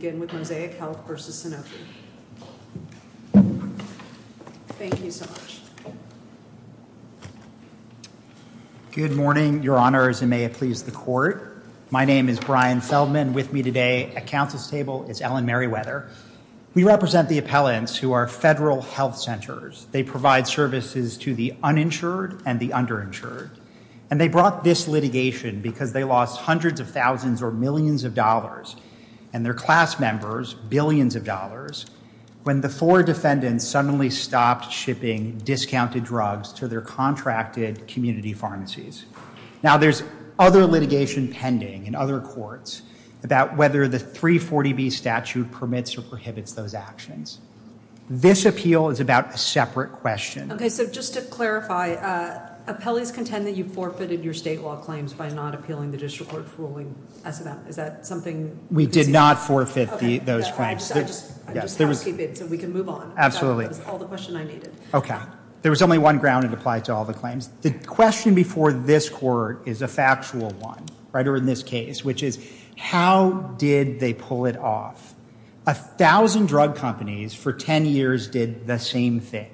Good morning, Your Honors, and may it please the Court. My name is Brian Feldman. With me today at Council's table is Ellen Merriweather. We represent the appellants who are federal health centers. They provide services to the uninsured and the underinsured. And they brought this litigation because they lost hundreds of thousands or millions of dollars, and their class members, billions of dollars, when the four defendants suddenly stopped shipping discounted drugs to their contracted community pharmacies. Now there's other litigation pending in other courts about whether the 340B statute permits or prohibits those actions. This appeal is about a separate question. Okay, so just to clarify, appellees contend that you've forfeited your state law claims by not appealing the district court's ruling as of now. Is that something? We did not forfeit those claims. Okay, I just have to keep it so we can move on. Absolutely. That was all the question I needed. Okay. There was only one ground that applied to all the claims. The question before this Court is a factual one, right, or in this case, which is how did they pull it off? A thousand drug companies for 10 years did the same thing.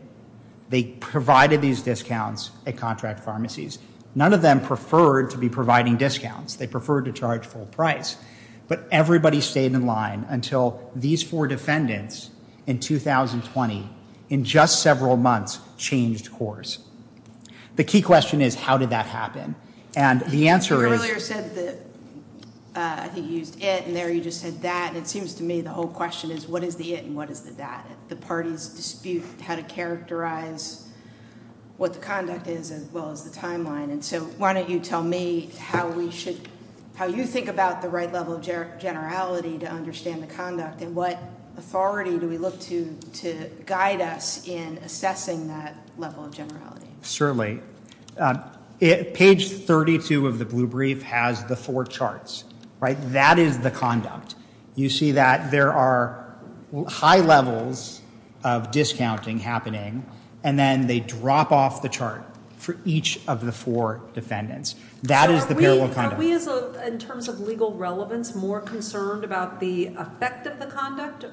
They provided these discounts at contract pharmacies. None of them preferred to be providing discounts. They preferred to charge full price. But everybody stayed in line until these four defendants in 2020, in just several months, changed course. The key question is how did that happen? And the answer is— You earlier said that—I think you used it and there you just said that. It seems to me the whole question is what is the it and what is the that? The parties dispute how to characterize what the conduct is as well as the timeline. And so why don't you tell me how we should—how you think about the right level of generality to understand the conduct and what authority do we look to to guide us in assessing that level of generality? Certainly. Page 32 of the blue brief has the four charts, right? That is the conduct. You see that there are high levels of discounting happening and then they drop off the chart for each of the four defendants. That is the parallel conduct. So are we, in terms of legal relevance, more concerned about the effect of the conduct?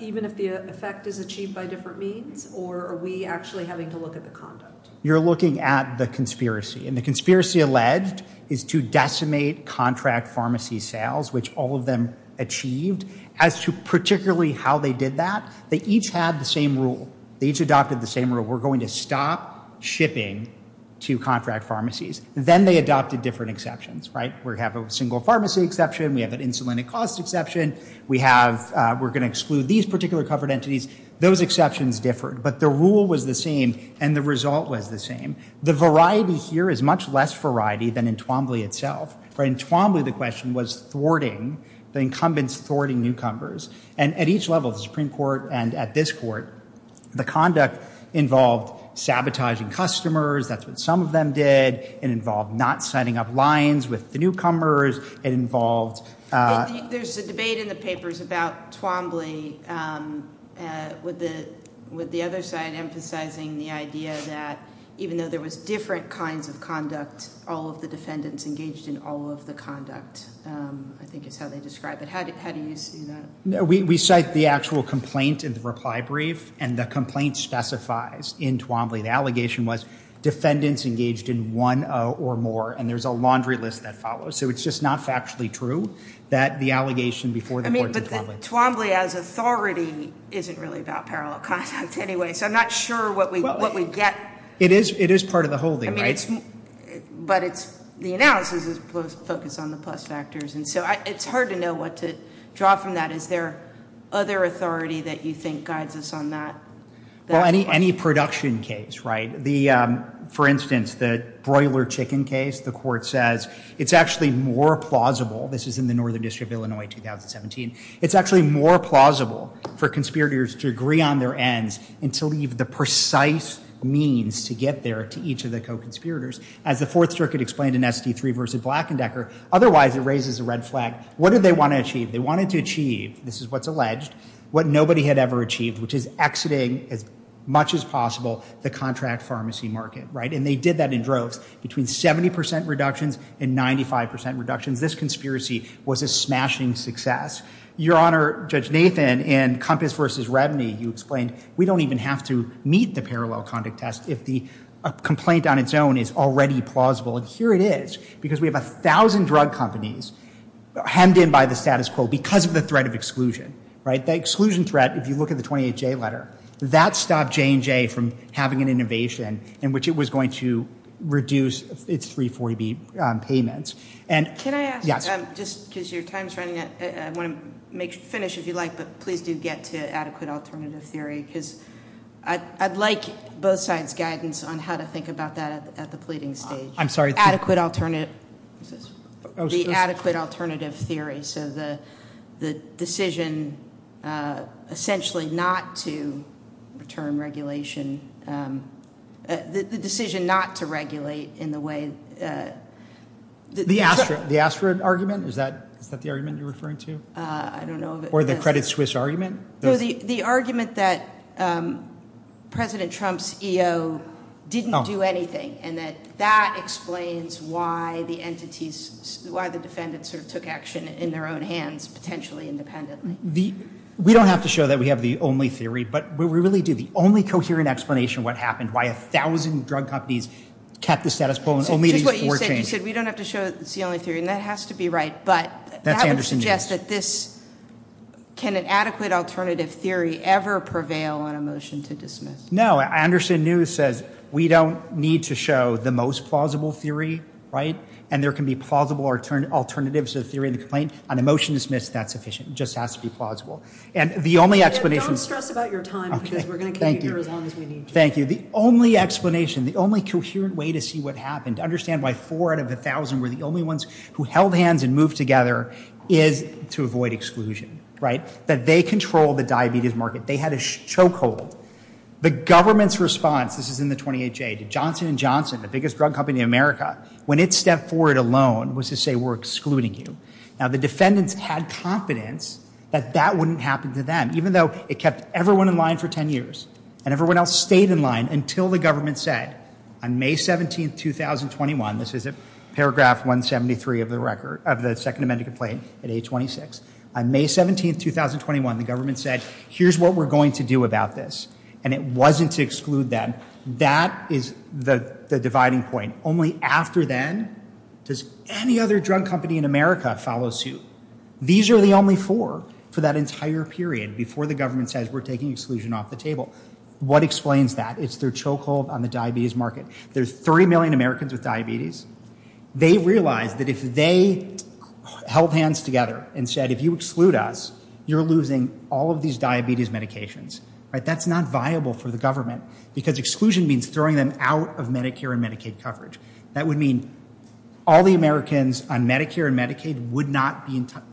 Even if the effect is achieved by different means? Or are we actually having to look at the conduct? You're looking at the conspiracy. And the conspiracy alleged is to decimate contract pharmacy sales, which all of them achieved. As to particularly how they did that, they each had the same rule. They each adopted the same rule. We're going to stop shipping to contract pharmacies. Then they adopted different exceptions, right? We have a single pharmacy exception. We have an insulin at cost exception. We have—we're going to exclude these particular covered entities. Those exceptions differed. But the rule was the same and the result was the same. The variety here is much less variety than in Twombly itself, right? In Twombly, the question was thwarting—the incumbents thwarting newcomers. And at each level, the Supreme Court and at this court, the conduct involved sabotaging customers. That's what some of them did. It involved not signing up lines with the newcomers. It involved— There's a debate in the papers about Twombly with the other side emphasizing the idea that even though there was different kinds of conduct, all of the defendants engaged in all of the conduct, I think is how they describe it. How do you see that? We cite the actual complaint in the reply brief and the complaint specifies in Twombly. The allegation was defendants engaged in one or more and there's a laundry list that follows. So it's just not factually true that the allegation before the court in Twombly— I mean, but the Twombly as authority isn't really about parallel contact anyway. So I'm not sure what we get. It is part of the whole thing, right? But it's—the analysis is focused on the plus factors. And so it's hard to know what to draw from that. Is there other authority that you think guides us on that? Well, any production case, right? For instance, the broiler chicken case, the court says it's actually more plausible—this is in the Northern District of Illinois 2017—it's actually more plausible for conspirators to agree on their ends and to leave the precise means to get there to each of the co-conspirators. As the Fourth Circuit explained in SD3 v. Black & Decker, otherwise it raises a red flag. What did they want to achieve? They wanted to achieve—this is what's alleged—what nobody had ever achieved, which is exiting as much as possible the contract pharmacy market, right? And they did that in droves, between 70% reductions and 95% reductions. This conspiracy was a smashing success. Your Honor, Judge Nathan, in Compass v. Redney, you explained we don't even have to meet the if the complaint on its own is already plausible, and here it is. Because we have 1,000 drug companies hemmed in by the status quo because of the threat of exclusion. Right? The exclusion threat, if you look at the 28J letter, that stopped J&J from having an innovation in which it was going to reduce its 340B payments. And— Can I ask— Yes. Just because your time's running out, I want to finish, if you like, but please do get to adequate alternative theory, because I'd like both sides' guidance on how to think about that at the pleading stage. I'm sorry— Adequate alternative—the adequate alternative theory, so the decision essentially not to return regulation—the decision not to regulate in the way— The ASTRA argument? Is that the argument you're referring to? I don't know. Or the Credit Suisse argument? The argument that President Trump's EO didn't do anything, and that that explains why the entities—why the defendants sort of took action in their own hands, potentially independently. We don't have to show that we have the only theory, but we really do. The only coherent explanation of what happened, why 1,000 drug companies kept the status quo and only— Just what you said. You said we don't have to show that it's the only theory, and that has to be right, but— That's Anderson, yes. So you suggest that this—can an adequate alternative theory ever prevail on a motion to dismiss? No. Anderson News says we don't need to show the most plausible theory, right? And there can be plausible alternatives to the theory of the complaint. On a motion to dismiss, that's sufficient. It just has to be plausible. And the only explanation— Don't stress about your time, because we're going to keep you here as long as we need Thank you. Thank you. The only explanation, the only coherent way to see what happened, to understand why four out of 1,000 were the only ones who held hands and moved together, is to avoid exclusion, right? That they control the diabetes market. They had a chokehold. The government's response—this is in the 28-J—to Johnson & Johnson, the biggest drug company in America, when it stepped forward alone, was to say, we're excluding you. Now, the defendants had confidence that that wouldn't happen to them, even though it kept everyone in line for 10 years, and everyone else stayed in line until the government said on May 17, 2021—this is in paragraph 173 of the record, of the Second Amendment complaint at 826—on May 17, 2021, the government said, here's what we're going to do about this. And it wasn't to exclude them. That is the dividing point. Only after then does any other drug company in America follow suit. These are the only four for that entire period, before the government says, we're taking exclusion off the table. What explains that? It's their chokehold on the diabetes market. There's 30 million Americans with diabetes. They realized that if they held hands together and said, if you exclude us, you're losing all of these diabetes medications, right? That's not viable for the government, because exclusion means throwing them out of Medicare and Medicaid coverage. That would mean all the Americans on Medicare and Medicaid would not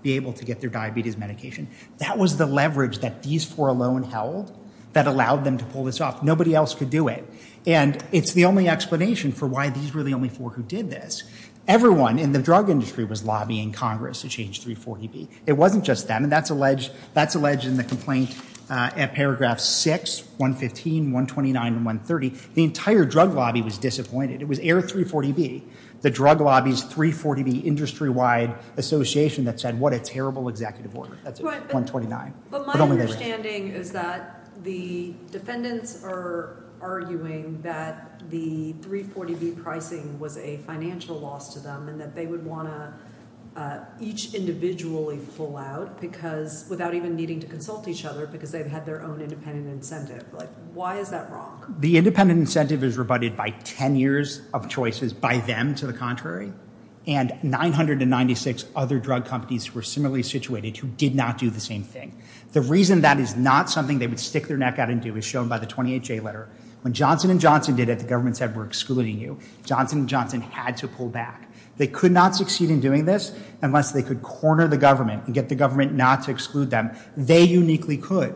be able to get their diabetes medication. That was the leverage that these four alone held that allowed them to pull this off. Nobody else could do it. And it's the only explanation for why these were the only four who did this. Everyone in the drug industry was lobbying Congress to change 340B. It wasn't just them. And that's alleged in the complaint at paragraph 6, 115, 129, and 130. The entire drug lobby was disappointed. It was Air 340B, the drug lobby's 340B industry-wide association that said, what a terrible executive order. That's 129. But my understanding is that the defendants are arguing that the 340B pricing was a financial loss to them, and that they would want to each individually pull out, without even needing to consult each other, because they've had their own independent incentive. Why is that wrong? The independent incentive is rebutted by 10 years of choices by them, to the contrary. And 996 other drug companies were similarly situated who did not do the same thing. The reason that is not something they would stick their neck out and do is shown by the 28J letter. When Johnson & Johnson did it, the government said, we're excluding you. Johnson & Johnson had to pull back. They could not succeed in doing this unless they could corner the government and get the government not to exclude them. They uniquely could.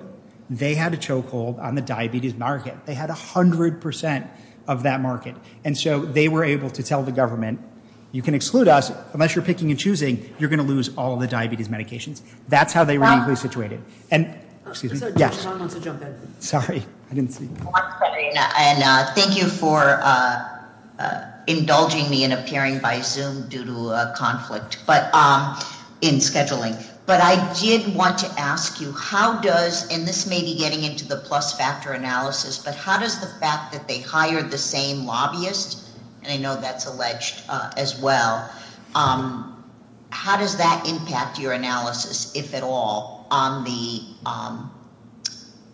They had a chokehold on the diabetes market. They had 100% of that market. And so they were able to tell the government, you can exclude us, unless you're picking and choosing, you're going to lose all the diabetes medications. That's how they were uniquely situated. And thank you for indulging me in appearing by Zoom due to a conflict in scheduling. But I did want to ask you, how does, and this may be getting into the plus factor analysis, but how does the fact that they hired the same lobbyist, and I know that's alleged as well, how does that impact your analysis, if at all, on the,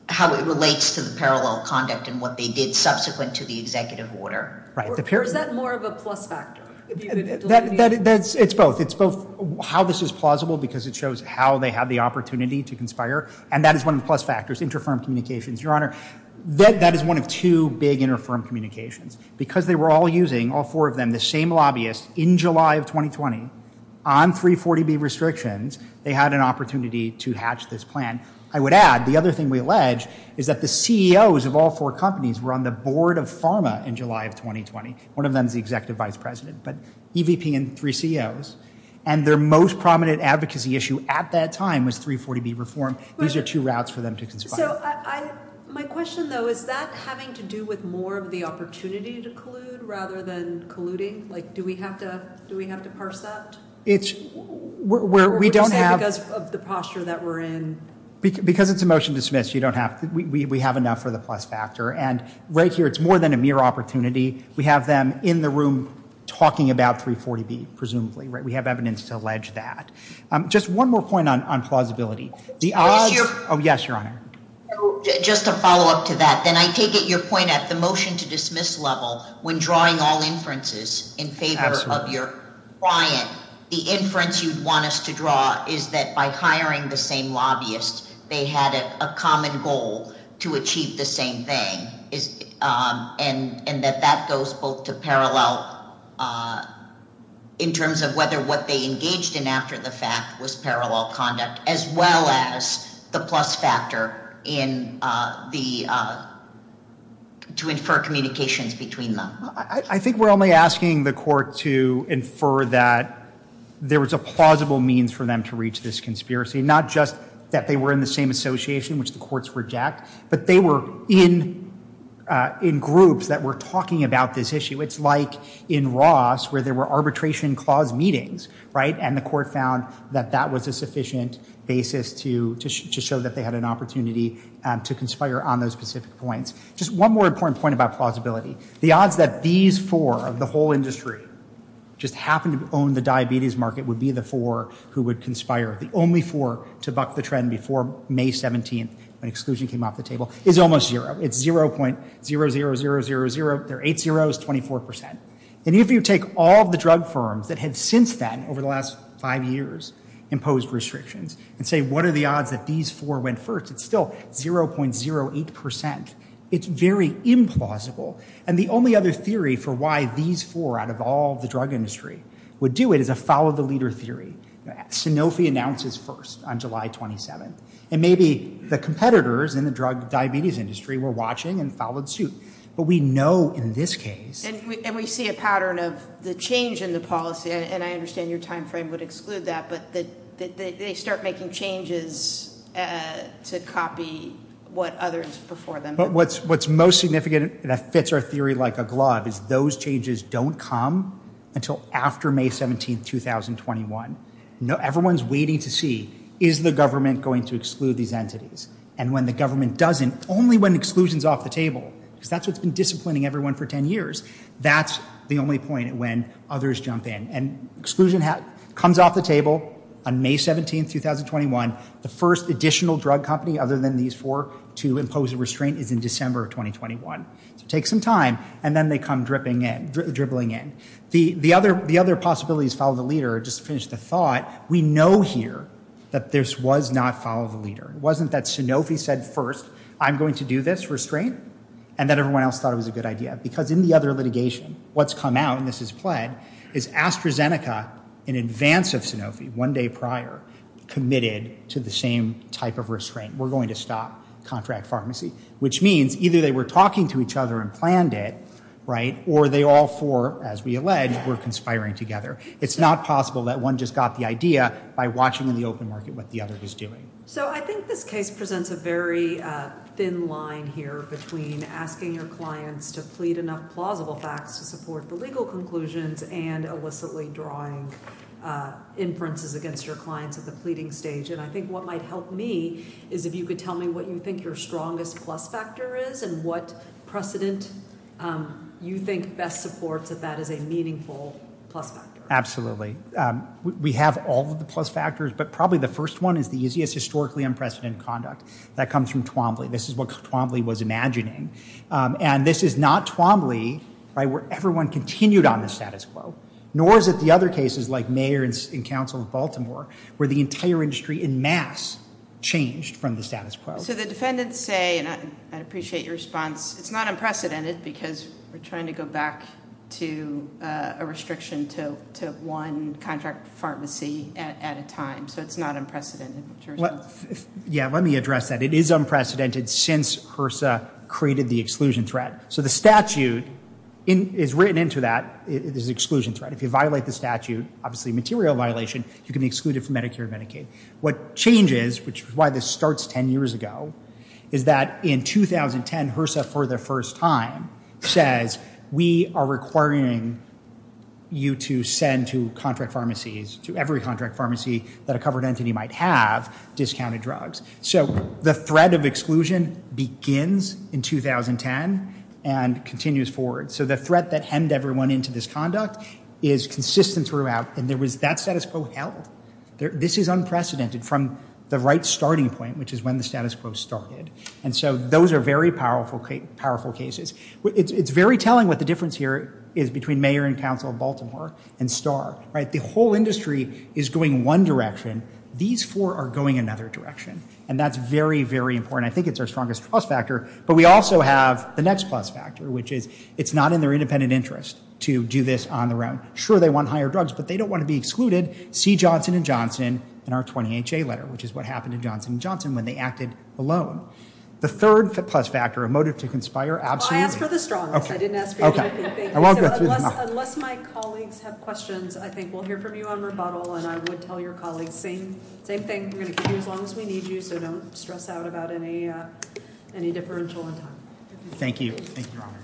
how it relates to the parallel conduct and what they did subsequent to the executive order? Or is that more of a plus factor? It's both. It's both how this is plausible because it shows how they had the opportunity to conspire. And that is one of the plus factors, inter-firm communications, Your Honor. That is one of two big inter-firm communications. Because they were all using, all four of them, the same lobbyist, in July of 2020, on 340B restrictions, they had an opportunity to hatch this plan. I would add, the other thing we allege is that the CEOs of all four companies were on the board of pharma in July of 2020. One of them is the executive vice president, but EVP and three CEOs. And their most prominent advocacy issue at that time was 340B reform. These are two routes for them to conspire. So I, my question though, is that having to do with more of the opportunity to collude rather than colluding? Like, do we have to, do we have to parse that? It's where we don't have, because of the posture that we're in. Because it's a motion to dismiss, you don't have to, we have enough for the plus factor. And right here, it's more than a mere opportunity. We have them in the room talking about 340B, presumably, right? We have evidence to allege that. Just one more point on, on plausibility. The odds. Oh, yes, your honor. Just to follow up to that, then I take it your point at the motion to dismiss level when drawing all inferences in favor of your client, the inference you'd want us to draw is that by hiring the same lobbyist, they had a common goal to achieve the same thing is and, and that that goes both to parallel in terms of whether what they engaged in after the fact was parallel conduct, as well as the plus factor in the, to infer communications between them. I think we're only asking the court to infer that there was a plausible means for them to reach this conspiracy, not just that they were in the same association, which the courts reject, but they were in, in groups that were talking about this issue. It's like in Ross where there were arbitration clause meetings, right? And the court found that that was a sufficient basis to, to, to show that they had an opportunity to conspire on those specific points. Just one more important point about plausibility. The odds that these four of the whole industry just happened to own the diabetes market would be the four who would conspire. The only four to buck the trend before May 17th when exclusion came off the table is almost zero. It's 0.000000. Their eight zeros, 24%. And if you take all of the drug firms that had since then over the last five years imposed restrictions and say, what are the odds that these four went first? It's still 0.08%. It's very implausible. And the only other theory for why these four out of all the drug industry would do it is a follow the leader theory. Sanofi announces first on July 27th and maybe the competitors in the drug diabetes industry were watching and followed suit. But we know in this case, and we see a pattern of the change in the policy, and I understand your timeframe would exclude that, but that they start making changes to copy what others before them. But what's, what's most significant that fits our theory like a glove is those changes don't come until after May 17th, 2021. Everyone's waiting to see, is the government going to exclude these entities? And when the government doesn't, only when exclusion is off the table, because that's what's been disciplining everyone for 10 years. That's the only point when others jump in and exclusion comes off the table on May 17th, 2021. The first additional drug company other than these four to impose a restraint is in December of 2021. So take some time. And then they come dribbling in. The other possibilities follow the leader, just to finish the thought, we know here that this was not follow the leader. It wasn't that Sanofi said, first, I'm going to do this restraint. And then everyone else thought it was a good idea because in the other litigation, what's come out, and this is pled, is AstraZeneca in advance of Sanofi, one day prior, committed to the same type of restraint. We're going to stop contract pharmacy, which means either they were talking to each other and planned it, right? Or they all four, as we allege, were conspiring together. It's not possible that one just got the idea by watching in the open market what the other was doing. So I think this case presents a very thin line here between asking your clients to plead enough plausible facts to support the legal conclusions and illicitly drawing inferences against your clients at the pleading stage. And I think what might help me is if you could tell me what you think your strongest plus factor is and what precedent you think best supports that that is a meaningful plus factor. Absolutely. We have all of the plus factors, but probably the first one is the easiest historically unprecedented conduct. That comes from Twombly. This is what Twombly was imagining. And this is not Twombly where everyone continued on the status quo, nor is it the other cases like Mayer and Council of Baltimore, where the entire industry in mass changed from the status quo. So the defendants say, and I appreciate your response, it's not unprecedented because we're trying to go back to a restriction to one contract pharmacy at a time. So it's not unprecedented. Yeah, let me address that. It is unprecedented since HRSA created the exclusion threat. So the statute is written into that as an exclusion threat. If you violate the statute, obviously a material violation, you can be excluded from Medicare and Medicaid. What changes, which is why this starts 10 years ago, is that in 2010 HRSA for the first time says, we are requiring you to send to contract pharmacies, to every contract pharmacy that a covered entity might have, discounted drugs. So the threat of exclusion begins in 2010 and continues forward. So the threat that hemmed everyone into this conduct is consistent throughout, and there was that status quo held. This is unprecedented from the right starting point, which is when the status quo started. And so those are very powerful cases. It's very telling what the difference here is between Mayor and Council of Baltimore and STAR. The whole industry is going one direction. These four are going another direction. And that's very, very important. I think it's our strongest plus factor. But we also have the next plus factor, which is it's not in their independent interest to do this on their own. Sure, they want higher drugs, but they don't want to be excluded. See Johnson & Johnson in our 20HA letter, which is what happened to Johnson & Johnson when they acted alone. The third plus factor, a motive to conspire, absolutely- I asked for the strongest. I didn't ask for anything. Okay. I won't go through them all. Unless my colleagues have questions, I think we'll hear from you on rebuttal, and I would tell your colleagues, same thing. We're going to keep you as long as we need you. So don't stress out about any differential in time. Thank you. Thank you, Your Honor.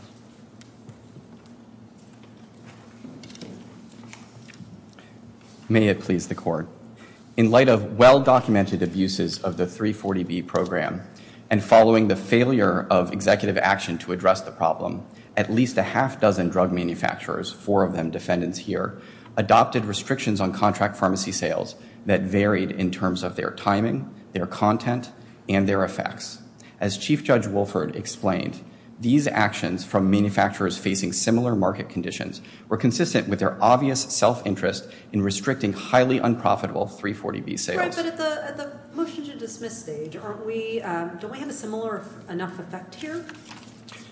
May it please the Court. In light of well-documented abuses of the 340B program, and following the failure of executive action to address the problem, at least a half-dozen drug manufacturers, four of them defendants here, adopted restrictions on contract pharmacy sales that varied in terms of their timing, their content, and their effects. As Chief Judge Wolford explained, these actions from manufacturers facing similar market conditions were consistent with their obvious self-interest in restricting highly unprofitable 340B sales. Right. But at the motion to dismiss stage, don't we have a similar enough effect here?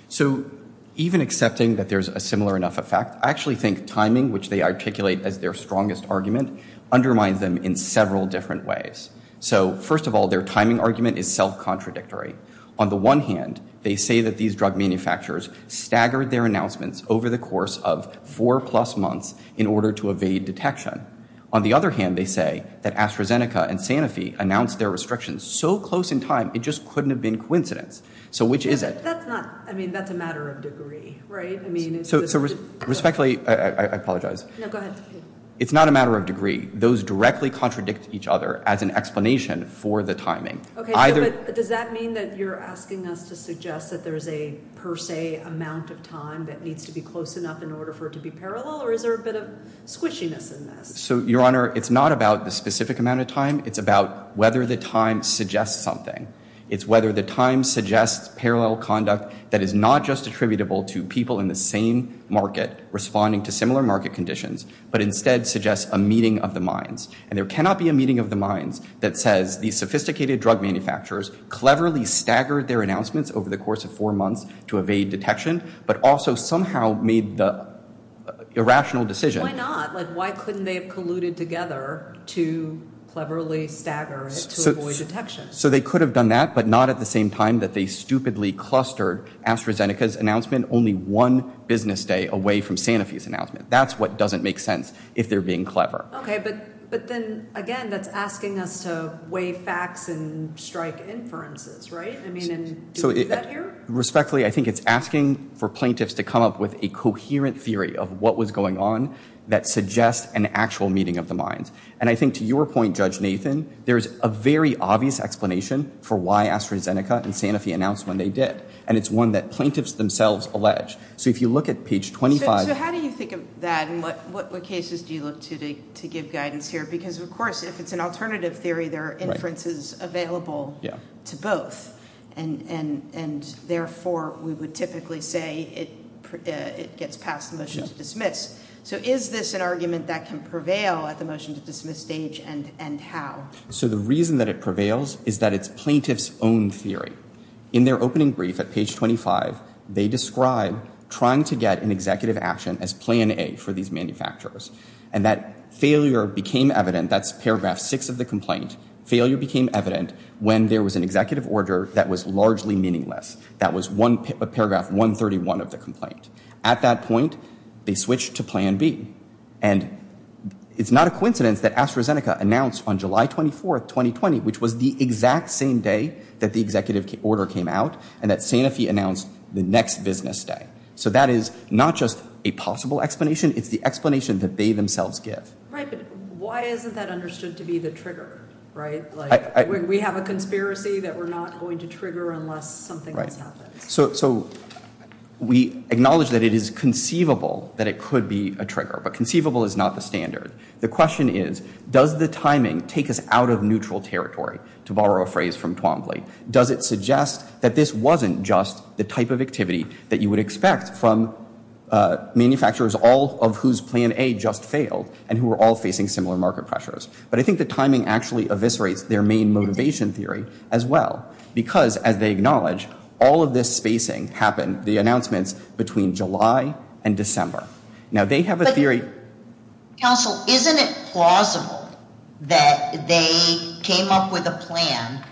So even accepting that there's a similar enough effect, I actually think timing, which they articulate as their strongest argument, undermines them in several different ways. So first of all, their timing argument is self-contradictory. On the one hand, they say that these drug manufacturers staggered their announcements over the course of four-plus months in order to evade detection. On the other hand, they say that AstraZeneca and Sanofi announced their restrictions so close in time, it just couldn't have been coincidence. So which is it? That's not, I mean, that's a matter of degree, right? So respectfully, I apologize. No, go ahead. It's not a matter of degree. Those directly contradict each other as an explanation for the timing. Okay, but does that mean that you're asking us to suggest that there's a per se amount of time that needs to be close enough in order for it to be parallel, or is there a bit of squishiness in this? So Your Honor, it's not about the specific amount of time. It's about whether the time suggests something. It's whether the time suggests parallel conduct that is not just attributable to people in the same market responding to similar market conditions, but instead suggests a meeting of the minds. And there cannot be a meeting of the minds that says these sophisticated drug manufacturers cleverly staggered their announcements over the course of four months to evade detection, but also somehow made the irrational decision. Why not? Like, why couldn't they have colluded together to cleverly stagger it to avoid detection? So they could have done that, but not at the same time that they stupidly clustered AstraZeneca's announcement only one business day away from Sanofi's announcement. That's what doesn't make sense if they're being clever. Okay, but then again, that's asking us to weigh facts and strike inferences, right? I mean, and do we do that here? Respectfully, I think it's asking for plaintiffs to come up with a coherent theory of what was going on that suggests an actual meeting of the minds. And I think to your point, Judge Nathan, there's a very obvious explanation for why AstraZeneca and Sanofi announced when they did. And it's one that plaintiffs themselves allege. So if you look at page 25. So how do you think of that and what cases do you look to to give guidance here? Because of course, if it's an alternative theory, there are inferences available to both and therefore we would typically say it gets past the motion to dismiss. So is this an argument that can prevail at the motion to dismiss stage and how? So the reason that it prevails is that it's plaintiff's own theory. In their opening brief at page 25, they describe trying to get an executive action as plan A for these manufacturers. And that failure became evident. That's paragraph six of the complaint. Failure became evident when there was an executive order that was largely meaningless. That was paragraph 131 of the complaint. At that point, they switched to plan B. And it's not a coincidence that AstraZeneca announced on July 24th, 2020, which was the exact same day that the executive order came out and that Sanofi announced the next business day. So that is not just a possible explanation. It's the explanation that they themselves give. Right. But why isn't that understood to be the trigger, right? We have a conspiracy that we're not going to trigger unless something else happens. So we acknowledge that it is conceivable that it could be a trigger, but conceivable is not the standard. The question is, does the timing take us out of neutral territory, to borrow a phrase from Twombly? Does it suggest that this wasn't just the type of activity that you would expect from manufacturers all of whose plan A just failed and who were all facing similar market pressures? But I think the timing actually eviscerates their main motivation theory as well. Because as they acknowledge, all of this spacing happened, the announcements, between July and December. Now, they have a theory. Counsel, isn't it plausible that they came up with a plan,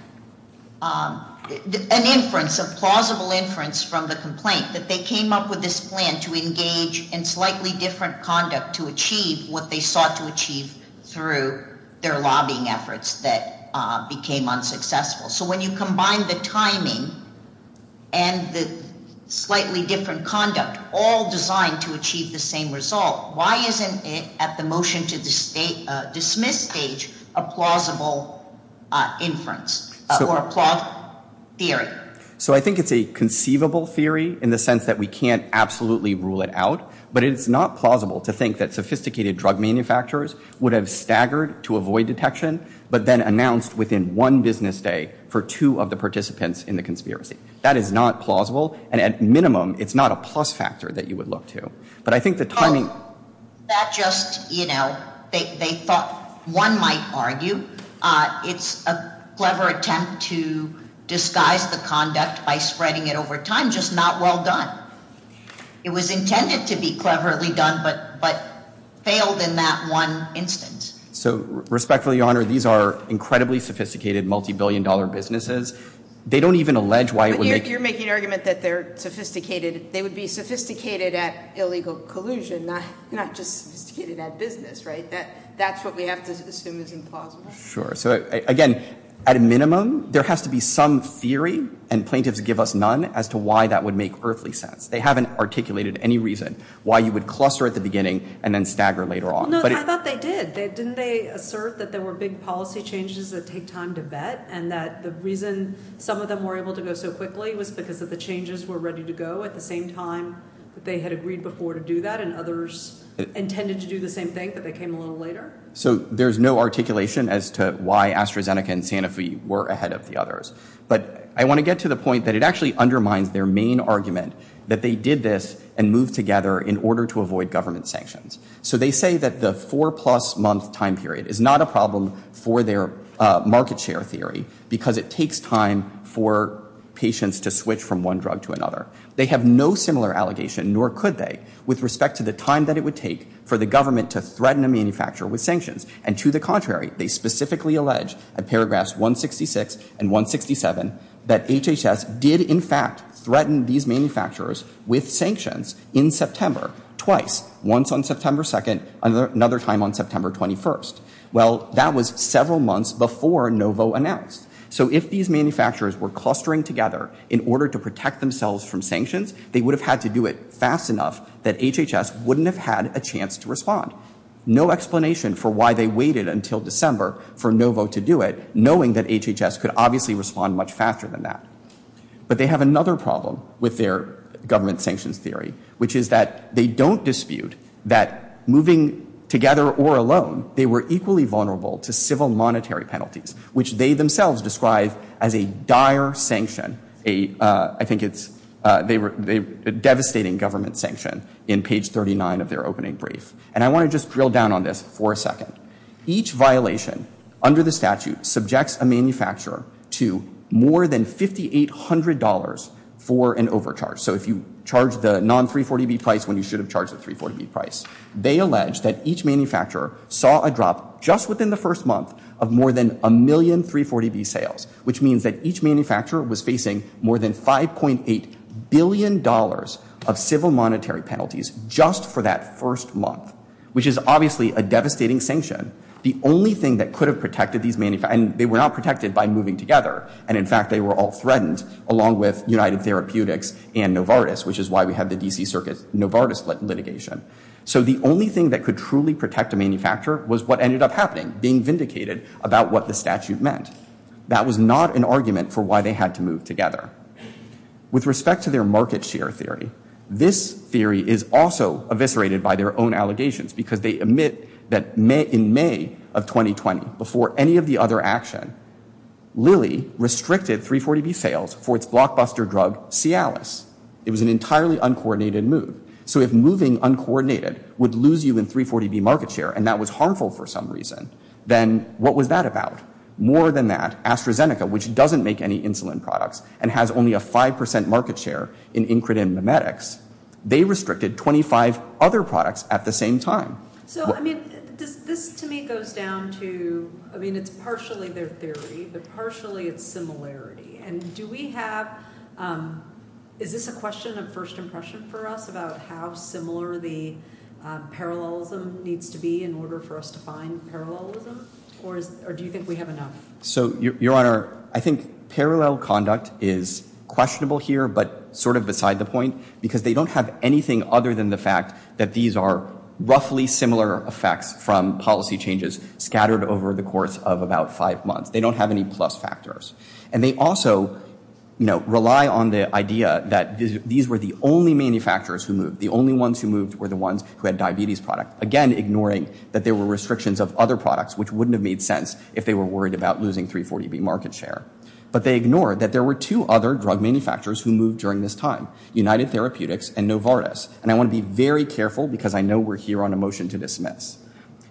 an inference, a plausible inference from the complaint, that they came up with this plan to engage in slightly different conduct to achieve what they sought to achieve through their lobbying efforts that became unsuccessful? So when you combine the timing and the slightly different conduct, all designed to achieve the same result, why isn't it, at the motion to dismiss stage, a plausible inference or a plausible theory? So I think it's a conceivable theory, in the sense that we can't absolutely rule it out. But it's not plausible to think that sophisticated drug manufacturers would have staggered to avoid detection, but then announced within one business day for two of the participants in the conspiracy. That is not plausible, and at minimum, it's not a plus factor that you would look to. But I think the timing... Oh, that just, you know, they thought, one might argue, it's a clever attempt to disguise the conduct by spreading it over time, just not well done. It was intended to be cleverly done, but failed in that one instance. So respectfully, Your Honor, these are incredibly sophisticated, multi-billion dollar businesses. They don't even allege why it would make... You're making an argument that they're sophisticated. They would be sophisticated at illegal collusion, not just sophisticated at business, right? That's what we have to assume is implausible. Sure. So again, at a minimum, there has to be some theory, and plaintiffs give us none, as to why that would make earthly sense. They haven't articulated any reason why you would cluster at the beginning and then stagger later on. No, I thought they did. Didn't they assert that there were big policy changes that take time to vet, and that the reason some of them were able to go so quickly was because of the changes were ready to go at the same time that they had agreed before to do that, and others intended to do the same thing, but they came a little later? So there's no articulation as to why AstraZeneca and Sanofi were ahead of the others. But I want to get to the point that it actually undermines their main argument that they did this and moved together in order to avoid government sanctions. So they say that the four-plus-month time period is not a problem for their market share theory, because it takes time for patients to switch from one drug to another. They have no similar allegation, nor could they, with respect to the time that it would take for the government to threaten a manufacturer with sanctions. And to the contrary, they specifically allege, at paragraphs 166 and 167, that HHS did in fact threaten these manufacturers with sanctions in September twice, once on September 2, another time on September 21. Well, that was several months before Novo announced. So if these manufacturers were clustering together in order to protect themselves from sanctions, they would have had to do it fast enough that HHS wouldn't have had a chance to respond. No explanation for why they waited until December for Novo to do it, knowing that HHS could obviously respond much faster than that. But they have another problem with their government sanctions theory, which is that they don't equally vulnerable to civil monetary penalties, which they themselves describe as a dire sanction. I think it's a devastating government sanction in page 39 of their opening brief. And I want to just drill down on this for a second. Each violation under the statute subjects a manufacturer to more than $5,800 for an overcharge. So if you charge the non-340B price when you should have charged the 340B price. They allege that each manufacturer saw a drop just within the first month of more than a million 340B sales, which means that each manufacturer was facing more than $5.8 billion of civil monetary penalties just for that first month, which is obviously a devastating sanction. The only thing that could have protected these manufacturers, and they were not protected by moving together. And in fact, they were all threatened along with United Therapeutics and Novartis, which is why we have the D.C. Circuit Novartis litigation. So the only thing that could truly protect a manufacturer was what ended up happening, being vindicated about what the statute meant. That was not an argument for why they had to move together. With respect to their market share theory, this theory is also eviscerated by their own allegations because they admit that in May of 2020, before any of the other action, Lilly restricted 340B sales for its blockbuster drug Cialis. It was an entirely uncoordinated move. So if moving uncoordinated would lose you in 340B market share, and that was harmful for some reason, then what was that about? More than that, AstraZeneca, which doesn't make any insulin products and has only a 5% market share in Incredent Mimetics, they restricted 25 other products at the same time. So I mean, this to me goes down to, I mean, it's partially their theory, but partially its similarity. And do we have, is this a question of first impression for us about how similar the parallelism needs to be in order for us to find parallelism? Or do you think we have enough? So Your Honor, I think parallel conduct is questionable here, but sort of beside the point because they don't have anything other than the fact that these are roughly similar effects from policy changes scattered over the course of about five months. They don't have any plus factors. And they also, you know, rely on the idea that these were the only manufacturers who moved. The only ones who moved were the ones who had diabetes product, again, ignoring that there were restrictions of other products, which wouldn't have made sense if they were worried about losing 340B market share. But they ignored that there were two other drug manufacturers who moved during this time, United Therapeutics and Novartis. And I want to be very careful because I know we're here on a motion to dismiss.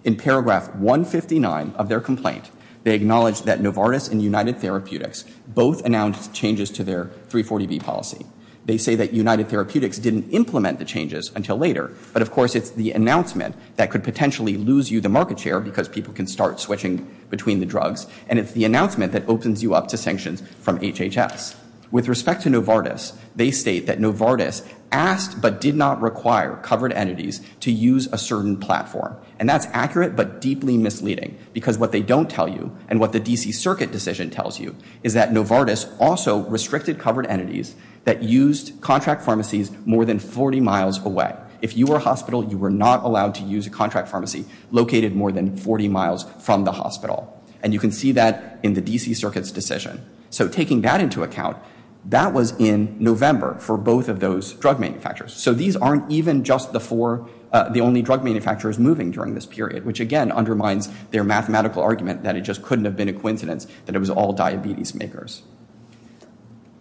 In paragraph 159 of their complaint, they acknowledge that Novartis and United Therapeutics both announced changes to their 340B policy. They say that United Therapeutics didn't implement the changes until later. But of course, it's the announcement that could potentially lose you the market share because people can start switching between the drugs. And it's the announcement that opens you up to sanctions from HHS. With respect to Novartis, they state that Novartis asked but did not require covered entities to use a certain platform. And that's accurate but deeply misleading because what they don't tell you and what the DC Circuit decision tells you is that Novartis also restricted covered entities that used contract pharmacies more than 40 miles away. If you were a hospital, you were not allowed to use a contract pharmacy located more than 40 miles from the hospital. And you can see that in the DC Circuit's decision. So taking that into account, that was in November for both of those drug manufacturers. So these aren't even just the four, the only drug manufacturers moving during this period, which again undermines their mathematical argument that it just couldn't have been a coincidence that it was all diabetes makers.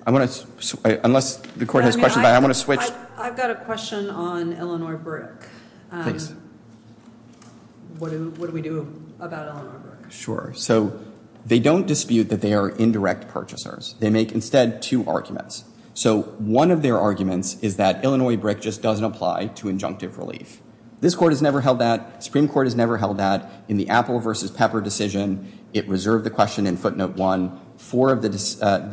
I want to, unless the court has questions, but I want to switch. I've got a question on Illinois Brick. Please. What do we do about Illinois Brick? Sure. So they don't dispute that they are indirect purchasers. They make instead two arguments. So one of their arguments is that Illinois Brick just doesn't apply to injunctive relief. This court has never held that. Supreme Court has never held that. In the Apple versus Pepper decision, it reserved the question in footnote one. Four of the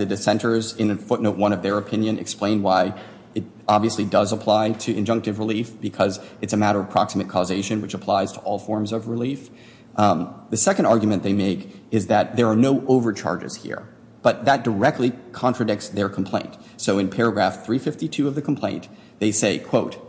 dissenters in footnote one of their opinion explain why it obviously does apply to injunctive relief because it's a matter of proximate causation, which applies to all forms of relief. The second argument they make is that there are no overcharges here, but that directly contradicts their complaint. So in paragraph 352 of the complaint, they say, quote,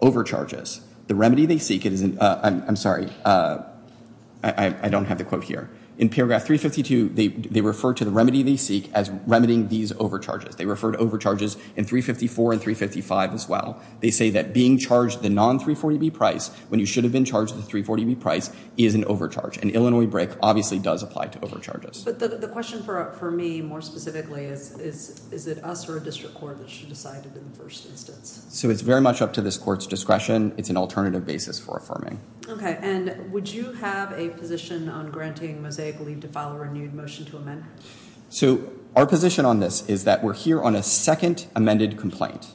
overcharges. The remedy they seek, I'm sorry, I don't have the quote here. In paragraph 352, they refer to the remedy they seek as remedying these overcharges. They refer to overcharges in 354 and 355 as well. They say that being charged the non-340B price when you should have been charged the 340B price is an overcharge, and Illinois Brick obviously does apply to overcharges. But the question for me more specifically is, is it us or a district court that should decide it in the first instance? So it's very much up to this court's discretion. It's an alternative basis for affirming. OK. And would you have a position on granting mosaic leave to file a renewed motion to amend? So our position on this is that we're here on a second amended complaint.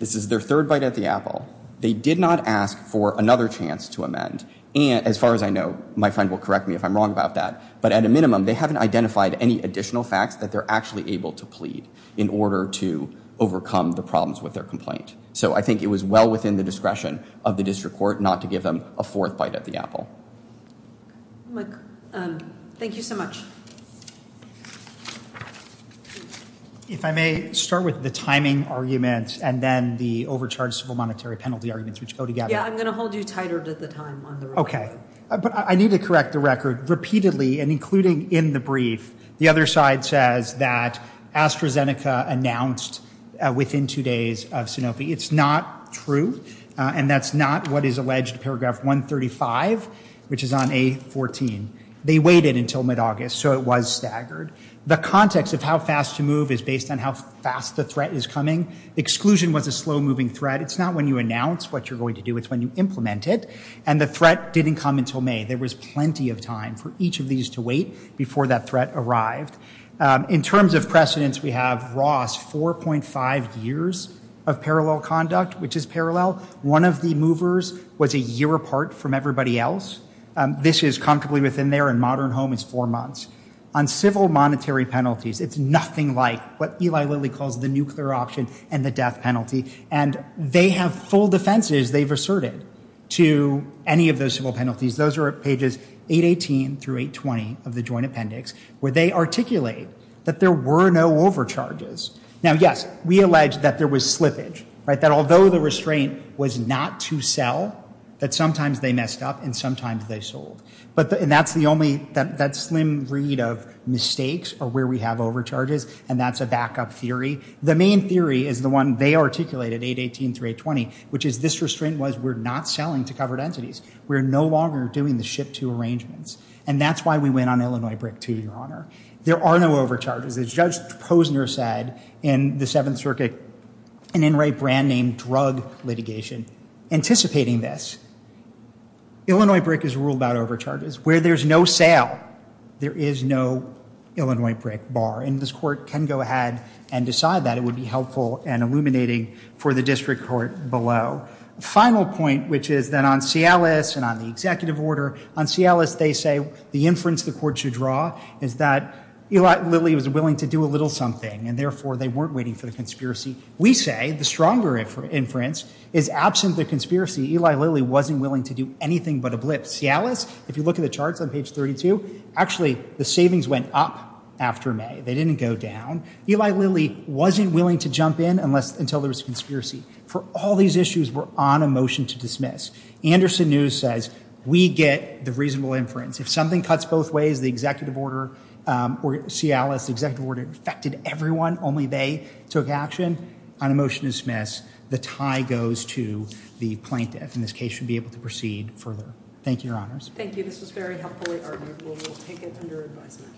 This is their third bite at the apple. They did not ask for another chance to amend. As far as I know, my friend will correct me if I'm wrong about that. But at a minimum, they haven't identified any additional facts that they're actually able to plead in order to overcome the problems with their complaint. So I think it was well within the discretion of the district court not to give them a fourth bite at the apple. Thank you so much. If I may start with the timing arguments and then the overcharge civil monetary penalty arguments which go together. Yeah, I'm going to hold you tighter to the time on the record. But I need to correct the record repeatedly and including in the brief. The other side says that AstraZeneca announced within two days of Sanofi. It's not true. And that's not what is alleged paragraph 135, which is on A14. They waited until mid-August. So it was staggered. The context of how fast to move is based on how fast the threat is coming. Exclusion was a slow-moving threat. It's not when you announce what you're going to do. It's when you implement it. And the threat didn't come until May. There was plenty of time for each of these to wait before that threat arrived. In terms of precedence, we have Ross 4.5 years of parallel conduct, which is parallel. One of the movers was a year apart from everybody else. This is comfortably within their and modern home is four months. On civil monetary penalties, it's nothing like what Eli Lilly calls the nuclear option and the death penalty. And they have full defenses they've asserted to any of those civil penalties. Those are pages 818 through 820 of the joint appendix where they articulate that there were no overcharges. Now, yes, we allege that there was slippage, right, that although the restraint was not to sell, that sometimes they messed up and sometimes they sold. But that's the only, that slim read of mistakes or where we have overcharges, and that's a backup theory. The main theory is the one they articulated, 818 through 820, which is this restraint was we're not selling to covered entities. We're no longer doing the ship-to arrangements. And that's why we went on Illinois brick, too, Your Honor. There are no overcharges. As Judge Posner said in the Seventh Circuit, an in-write brand name, drug litigation, anticipating this. Illinois brick is ruled about overcharges. Where there's no sale, there is no Illinois brick bar. And this Court can go ahead and decide that. It would be helpful and illuminating for the District Court below. Final point, which is that on Cialis and on the executive order, on Cialis, they say the inference the Court should draw is that Eli Lilly was willing to do a little something, and therefore, they weren't waiting for the conspiracy. We say the stronger inference is absent the conspiracy. Eli Lilly wasn't willing to do anything but a blip. Cialis, if you look at the charts on page 32, actually, the savings went up after May. They didn't go down. Eli Lilly wasn't willing to jump in until there was a conspiracy. For all these issues, we're on a motion to dismiss. Anderson News says we get the reasonable inference. If something cuts both ways, the executive order or Cialis, the executive order affected everyone, only they took action, on a motion to dismiss. The tie goes to the plaintiff, and this case should be able to proceed further. Thank you, Your Honors. Thank you, this was very helpfully argued. We will take it under advisement.